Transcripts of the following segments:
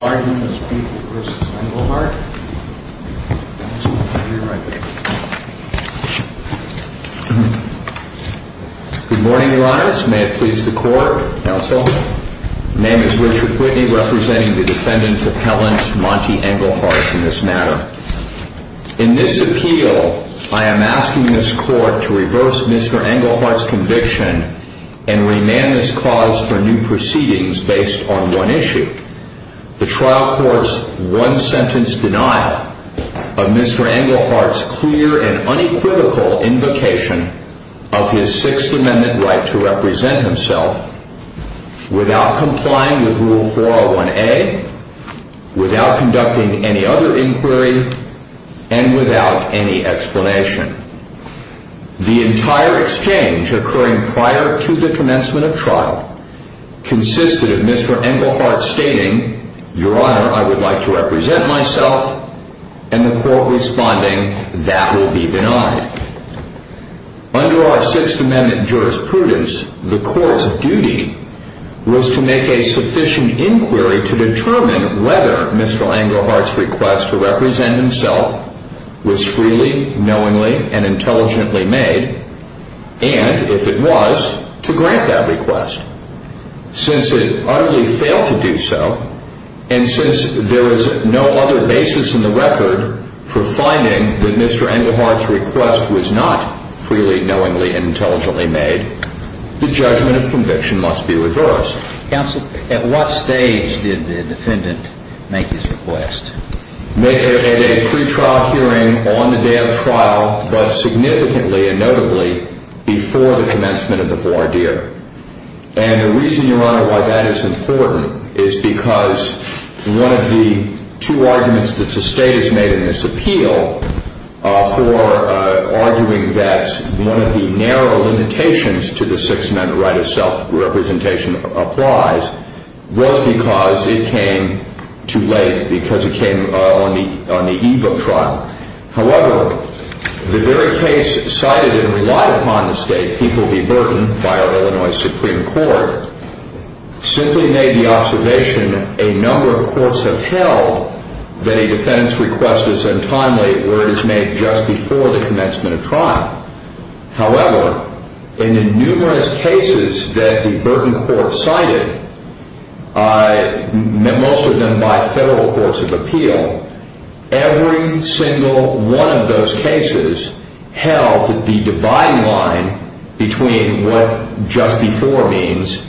Good morning, Your Honors. May it please the Court, Counsel. My name is Richard Whitney, representing the defendant appellant, Monty Englehart, in this matter. In this appeal, I am asking this Court to reverse Mr. Englehart's conviction and remand this cause for new proceedings based on one issue, the trial court's one-sentence denial of Mr. Englehart's clear and unequivocal invocation of his Sixth Amendment right to represent himself, without complying with Rule 401A, without conducting any other inquiry, and without any explanation. The entire exchange occurring prior to the commencement of trial consisted of Mr. Englehart stating, Your Honor, I would like to represent myself, and the Court responding, That will be denied. Under our Sixth Amendment jurisprudence, the Court's duty was to make a sufficient inquiry to determine whether Mr. Englehart's request to represent himself was freely, knowingly, and intelligently made, and, if it was, to grant that request. Since it utterly failed to do so, and since there is no other basis in the record for finding that Mr. Englehart's request was not freely, knowingly, and intelligently made, the judgment of conviction must be reversed. Counsel, at what stage did the defendant make his request? At a pretrial hearing on the day of trial, but significantly and notably before the commencement of the four-year. And the reason, Your Honor, why that is important is because one of the two arguments that the State has made in this appeal for arguing that one of the narrow limitations to the Sixth Amendment right of self-representation applies was because it came too late, because it came on the eve of trial. However, the very case cited and relied upon the State, People v. Burton, by our Illinois Supreme Court, simply made the observation a number of courts have held that a defendant's request is untimely, where it is made just before the commencement of trial. However, in the numerous cases that the Burton Court cited, most of them by federal courts of appeal, every single one of those cases held that the dividing line between what just before means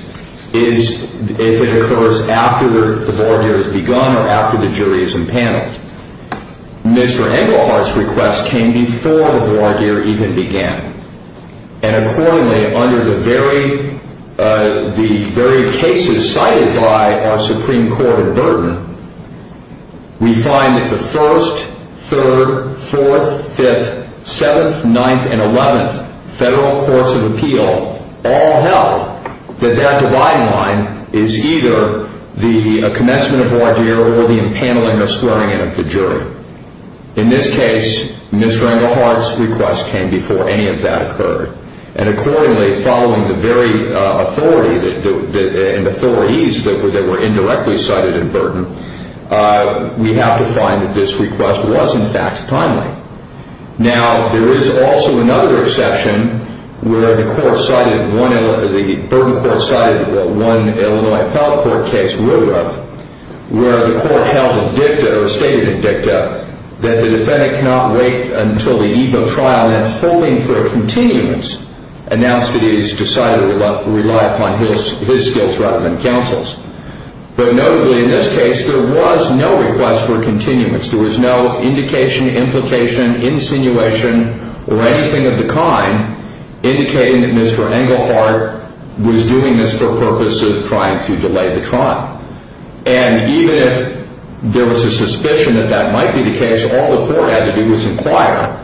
is if it occurs after the four-year has begun or after the jury is impaneled. Mr. Englehart's request came before the four-year even began. And accordingly, under the very cases cited by our Supreme Court in Burton, we find that the first, third, fourth, fifth, seventh, ninth, and eleventh federal courts of appeal all held that that dividing line is either the commencement of a four-year or the impaneling or swearing-in of the jury. In this case, Mr. Englehart's request came before any of that occurred. And accordingly, following the very authority and authorities that were indirectly cited in Burton, we have to find that this request was, in fact, timely. Now, there is also another exception where the Burton Court cited one Illinois appellate court case, Woodruff, where the court held a dicta or stated a dicta that the defendant cannot wait until the eve of trial and, holding for continuance, announced that he has decided to rely upon his skills rather than counsel's. But notably, in this case, there was no request for continuance. There was no indication, implication, insinuation or anything of the kind indicating that Mr. Englehart was doing this for purpose of trying to delay the trial. And even if there was a suspicion that that might be the case, all the court had to do was inquire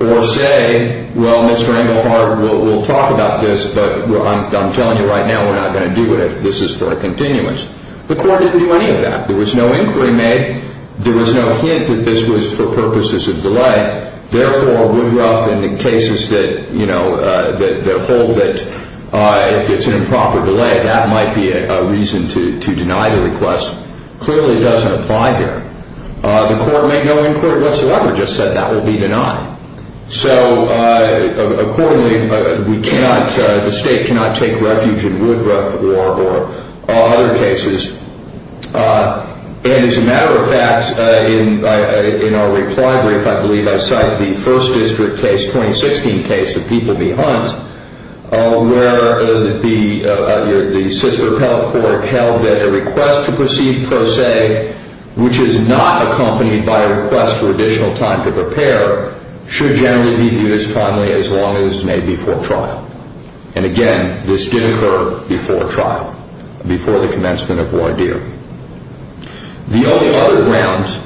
or say, well, Mr. Englehart, we'll talk about this, but I'm telling you right now we're not going to do it if this is for continuance. The court didn't do any of that. There was no inquiry made. There was no hint that this was for purposes of delay. Therefore, Woodruff, in the cases that, you know, that hold that if it's an improper delay, that might be a reason to deny the request, clearly doesn't apply here. The court made no inquiry whatsoever, just said that will be denied. So, accordingly, we cannot, the State cannot take refuge in Woodruff or other cases. And, as a matter of fact, in our reply brief, I believe I cited the First District case, 2016 case of Peabody Hunt, where the appellate court held that a request to proceed per se, which is not accompanied by a request for additional time to prepare, should generally be viewed as timely as long as it's made before trial. And, again, this did occur before trial, before the commencement of voir dire. The only other grounds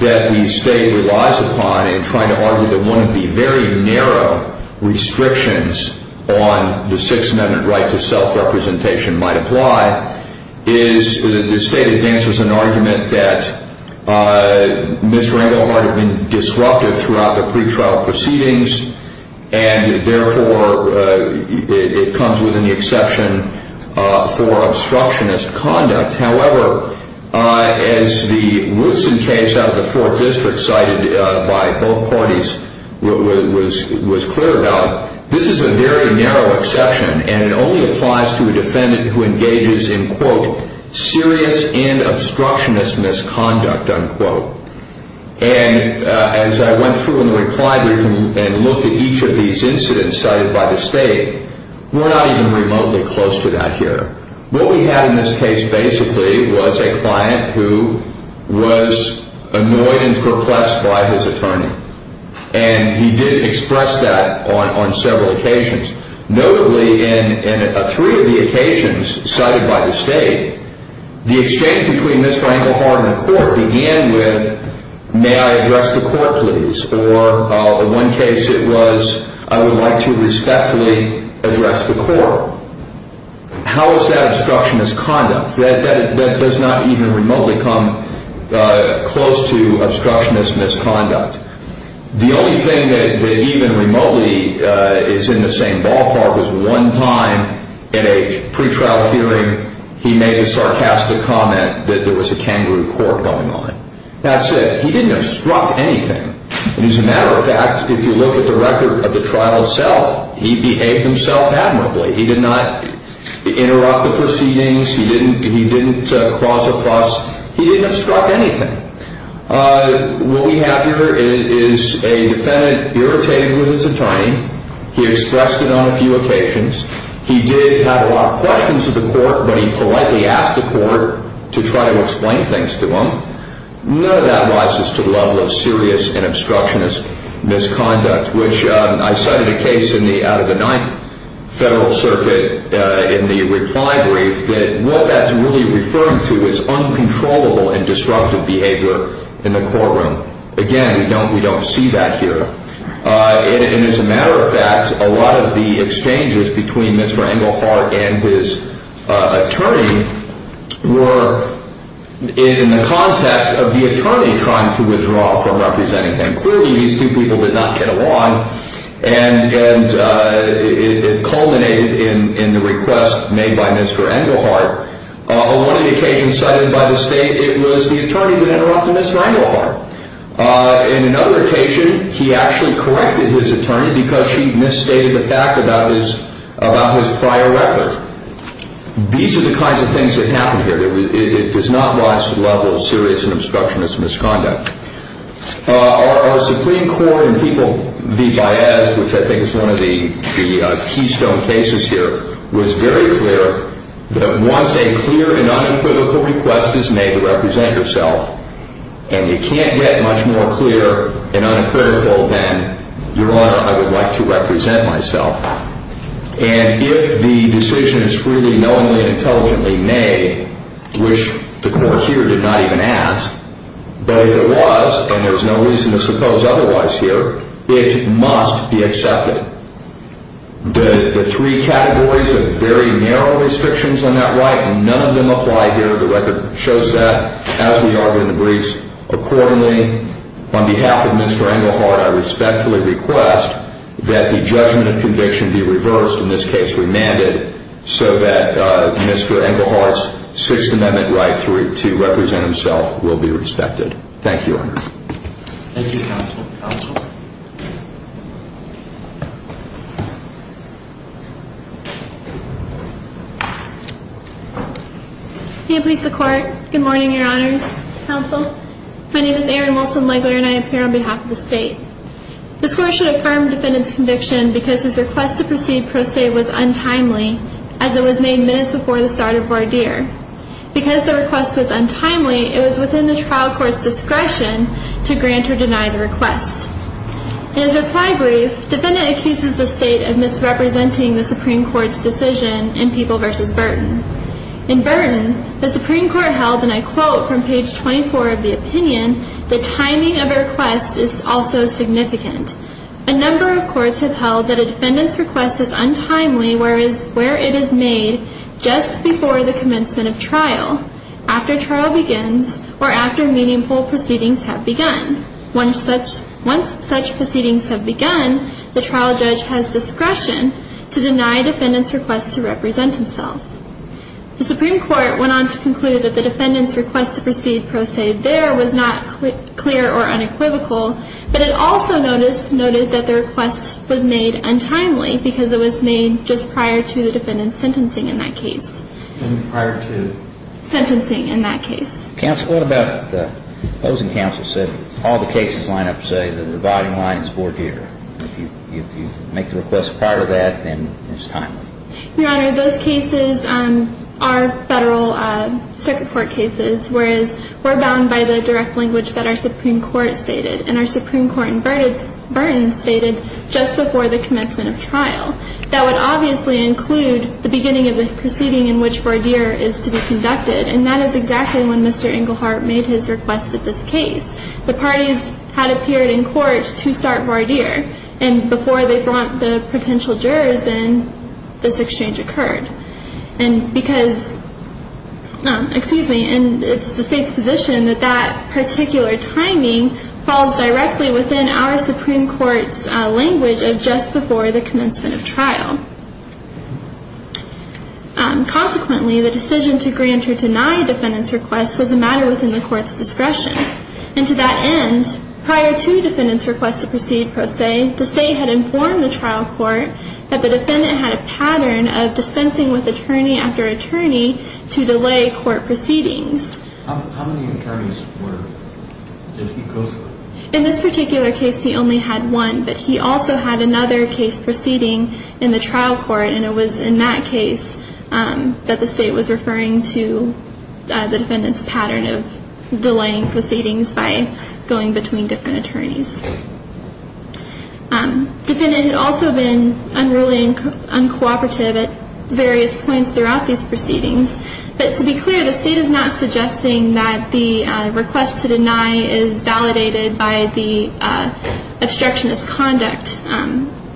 that the State relies upon in trying to argue that one of the very narrow restrictions on the Sixth Amendment right to self-representation might apply is that the State advances an argument that Ms. Ringohart had been disruptive throughout the pretrial proceedings, and, therefore, it comes within the exception for which Ms. Ringohart's case was cleared out. This is a very narrow exception, and it only applies to a defendant who engages in, quote, serious and obstructionist misconduct, unquote. And, as I went through in the reply brief and looked at each of these incidents cited by the State, we're not even remotely close to that here. What we had in this case, basically, was a client who was annoyed and perplexed by his attorney, and he did express that on several occasions. Notably, in three of the occasions cited by the State, the exchange between Ms. Ringohart and the court began with, may I address the court, please? Or, in one case, it was, I would like to respectfully address the court. How is that obstructionist misconduct? That does not even remotely come close to obstructionist misconduct. The only thing that even remotely is in the same ballpark is one time in a pretrial hearing he made a sarcastic comment that there was a kangaroo court going on. That's it. He didn't obstruct anything. And, as a matter of fact, if you look at the record of the trial itself, he didn't cross a fuss. He didn't obstruct anything. What we have here is a defendant irritated with his attorney. He expressed it on a few occasions. He did have a lot of questions of the court, but he politely asked the court to try to explain things to him. None of that rises to the level of serious and obstructionist misconduct, which I cited a case in the, out of the Ninth Federal Circuit, in the reply brief, that what that's really referring to is uncontrollable and disruptive behavior in the courtroom. Again, we don't see that here. And, as a matter of fact, a lot of the exchanges between Mr. Ringohart and his attorney were in the context of the attorney trying to withdraw from representing them. Clearly, these two people did not get along, and it culminated in the request made by Mr. Ringohart. On one of the occasions cited by the state, it was the attorney who interrupted Mr. Ringohart. In another occasion, he actually corrected his attorney because she misstated the fact about his prior record. These are the kinds of things that happen here. It does not rise to the level of serious and obstructionist misconduct. Our Supreme Court in People v. Baez, which I think is one of the keystone cases here, was very clear that once a clear and unequivocal request is made to represent yourself, and you can't get much more clear and unequivocal than, Your Honor, I would like to represent myself. And if the decision is freely, knowingly, and intelligently made, which the court here did not even ask, but if it was, and there's no reason to suppose otherwise here, it must be accepted. The three categories of very narrow restrictions on that right, none of them apply here. The record shows that, as we argued in the briefs. Accordingly, on behalf of Mr. Ringohart, I respectfully request that the judgment of conviction be reversed, in this case remanded, so that Mr. Ringohart's Sixth Amendment right to represent himself will be respected. Thank you, Your Honor. Thank you, Counsel. Counsel? May it please the Court. Good morning, Your Honors. Counsel? My name is Erin Wilson-Legler and I appear on behalf of the State. This Court should affirm defendant's conviction because his request to proceed pro se was untimely, as it was made minutes before the start of voir dire. Because the request was untimely, it was within the trial court's In his reply brief, defendant accuses the State of misrepresenting the Supreme Court's decision in People v. Burton. In Burton, the Supreme Court held, and I quote from page 24 of the opinion, the timing of a request is also significant. A number of courts have held that a defendant's request is untimely where it is made just before the commencement of trial, after trial begins, or after meaningful proceedings have begun. Once such proceedings have begun, the trial judge has discretion to deny defendant's request to represent himself. The Supreme Court went on to conclude that the defendant's request to proceed pro se there was not clear or unequivocal, but it also noted that the request was made untimely because it was made just prior to the defendant's sentencing in that case. And prior to? Sentencing in that case. Counsel, what about the opposing counsel said all the cases line up to say the reviving line is voir dire. If you make the request prior to that, then it's timely. Your Honor, those cases are Federal Circuit Court cases, whereas we're bound by the direct language that our Supreme Court stated. And our Supreme Court in Burton stated just before the commencement of trial. That would obviously include the beginning of the proceeding in which voir dire is to be conducted, and that is exactly when Mr. Englehart made his request at this case. The parties had appeared in court to start voir dire, and before they brought the potential jurors in, this exchange occurred. And because, excuse me, and it's the State's position that that particular timing falls directly within our Supreme Court's language of just before the commencement of trial. Consequently, the decision to grant or deny a defendant's request was a matter within the court's discretion. And to that end, prior to the defendant's request to proceed pro se, the State had informed the trial court that the defendant had a pattern of dispensing with attorney after attorney to delay court proceedings. How many attorneys were, did he go through? In this particular case, he only had one, but he also had another case proceeding in the trial court, and it was in that case that the State was referring to the defendant's pattern of delaying proceedings by going between different attorneys. Defendant had also been unruly and uncooperative at various points throughout these proceedings. But to be clear, the State is not suggesting that the request to deny is validated by the obstructionist conduct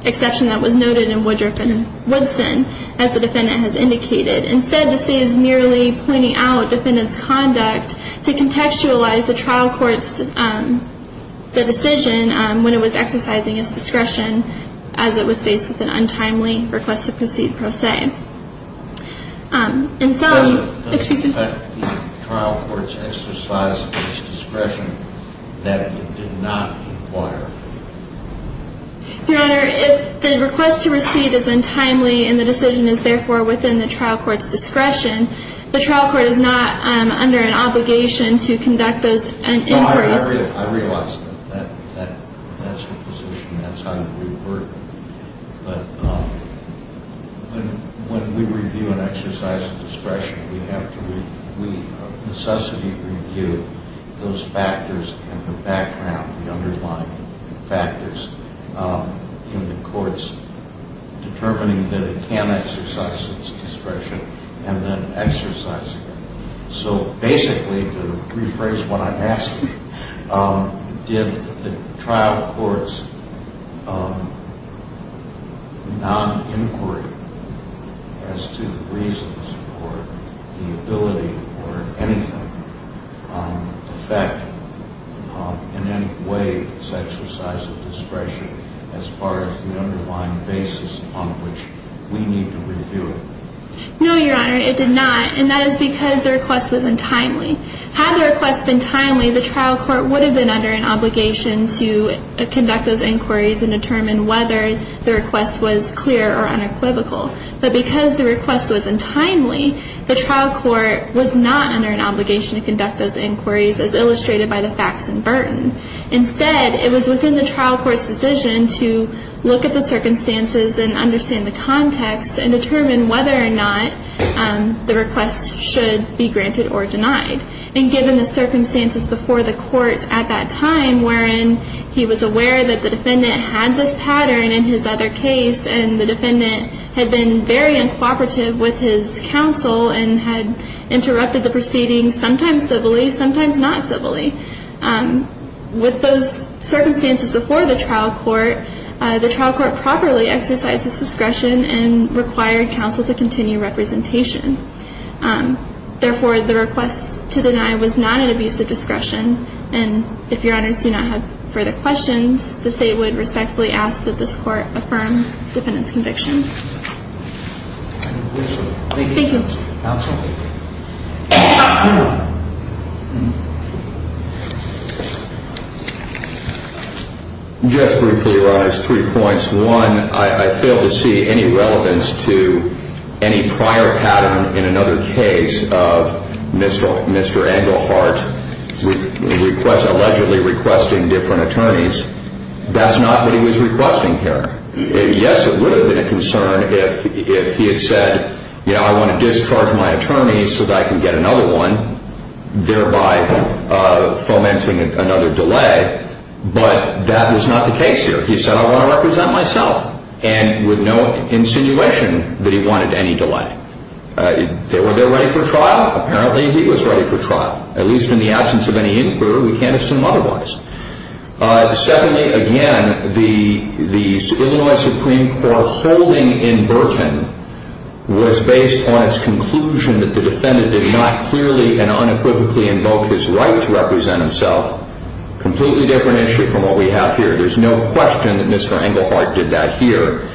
exception that was noted in Woodruff and Woodson, as the defendant has indicated. Instead, the State is merely pointing out defendant's conduct to contextualize the trial court's decision when it was exercising its discretion as it was faced with an untimely request to proceed pro se. Does it affect the trial court's exercise of its discretion that it did not inquire? Your Honor, if the request to proceed is untimely and the decision is therefore within the trial court's discretion, the trial court is not under an obligation to conduct those inquiries. I realize that's the position. That's how we work. But when we review an exercise of discretion, we have to necessarily review those factors in the background, the underlying factors in the courts, determining that it can exercise its discretion and then exercising So basically, to rephrase what I'm asking, did the trial court's non-inquiry as to the reasons for the ability or anything affect in any way its exercise of discretion as far as the underlying basis on which we need to review it? No, Your Honor, it did not. And that is because the request was untimely. Had the request been timely, the trial court would have been under an obligation to conduct those inquiries and determine whether the request was clear or unequivocal. But because the request was untimely, the trial court was not under an obligation to conduct those inquiries as illustrated by the facts in Burton. Instead, it was within the trial court's decision to look at the circumstances and understand the context and determine whether or not the request should be granted or denied. And given the circumstances before the court at that time wherein he was aware that the defendant had this pattern in his other case and the defendant had been very uncooperative with his counsel and had interrupted the proceedings sometimes civilly, sometimes not civilly, with those circumstances before the trial court, the trial court properly exercised its discretion and required counsel to continue representation. Therefore, the request to deny was not an abuse of discretion. And if Your Honors do not have further questions, the State would respectfully ask that this case be adjourned. Just briefly, Your Honors, three points. One, I fail to see any relevance to any prior pattern in another case of Mr. Engelhardt allegedly requesting different attorneys. That's not what he was requesting here. Yes, it would have been a concern if he had said, you know, I want to discharge my attorney so that I can get another one, thereby fomenting another delay. But that was not the case here. He said, I want to represent myself, and with no insinuation that he wanted any delay. Were they ready for trial? Apparently, he was ready for trial, at least in the absence of any inquiry. We can't assume otherwise. Secondly, again, the Illinois Supreme Court holding in Burton was based on its conclusion that the defendant did not clearly and unequivocally invoke his right to represent himself, a completely different issue from what we have here. There's no question that Mr. Engelhardt did that here.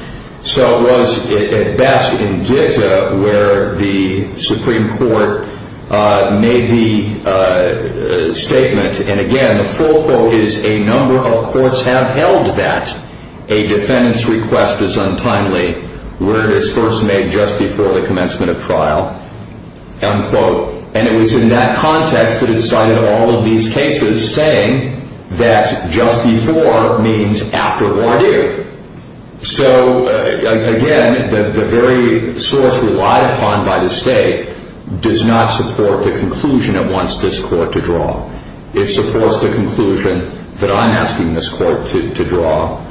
So it was, at best, in Ditta where the Supreme Court made the statement, and again, the full quote is, a number of courts have held that a defendant's request is untimely where it is first made just before the commencement of trial, end quote. And it was in that context that it cited all of these cases, saying that just before means after voir dire. So, again, the very source relied upon by the state does not support the conclusion it wants this court to draw. It supports the conclusion that I'm asking this court to draw.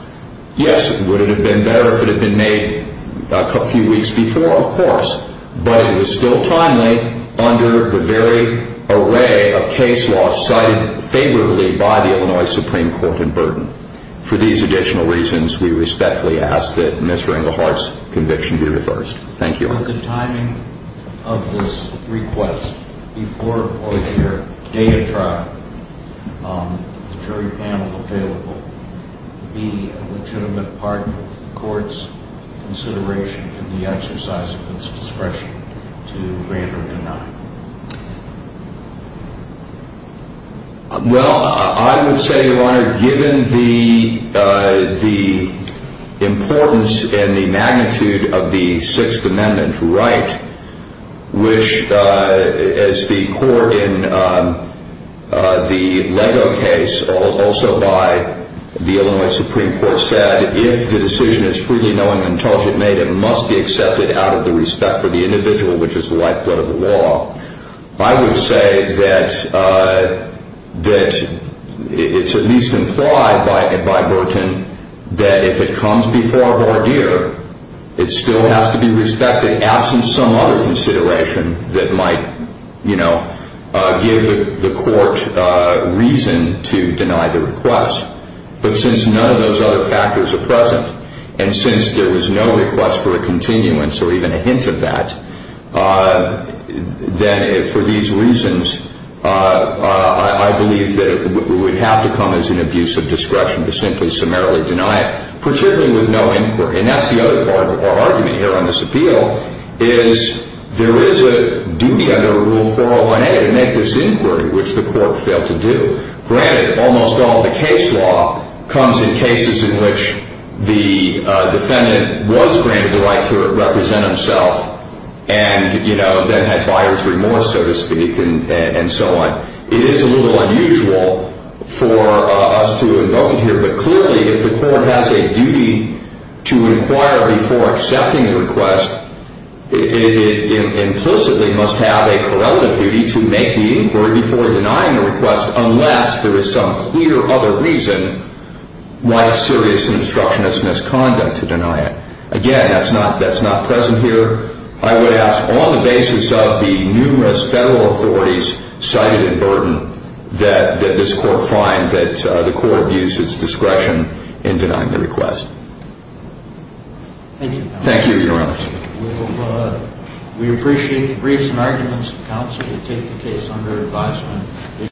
Yes, would it have been better if it had been made a few weeks before? Of course. But it was still timely under the very array of case laws cited favorably by the Illinois Supreme Court in Burton. For these additional reasons, we respectfully ask that Mr. Engelhardt's conviction be reversed. Thank you. Well, I would say, Your Honor, given the importance and the magnitude of the Sixth Amendment right, which, as the court in the Lego case, also by the Illinois Supreme Court, said, if the decision is freely knowing and intelligently made, it must be accepted out of the respect for the individual, which is the lifeblood of the law. I would say that it's at least implied by Burton that if it comes before voir dire, it still has to be respected, absent some other consideration that might give the court reason to deny the request. But since none of those other factors are present, and since there was no request for a continuance or even a hint of that, then for these reasons, I believe that it would have to come as an abuse of discretion to simply summarily deny it, particularly with no inquiry. And that's the other part of our argument here on this appeal, is there is a duty under Rule 401A to make this inquiry, which the court failed to do. Granted, almost all the case law comes in cases in which the defendant was granted the right to represent himself and, you know, then had buyer's remorse, so to speak, and so on. It is a little unusual for us to invoke it here, but clearly if the court has a duty to inquire before accepting a request, it implicitly must have a correlative duty to make the inquiry before denying the request unless there is some clear other reason why a serious obstructionist misconduct to deny it. Again, that's not present here. I would ask on the basis of the numerous Federal authorities cited in Burden that this court find that the court abuse its discretion in denying the request. Thank you, Your Honors. We appreciate the briefs and arguments of counsel to take the case under advisement.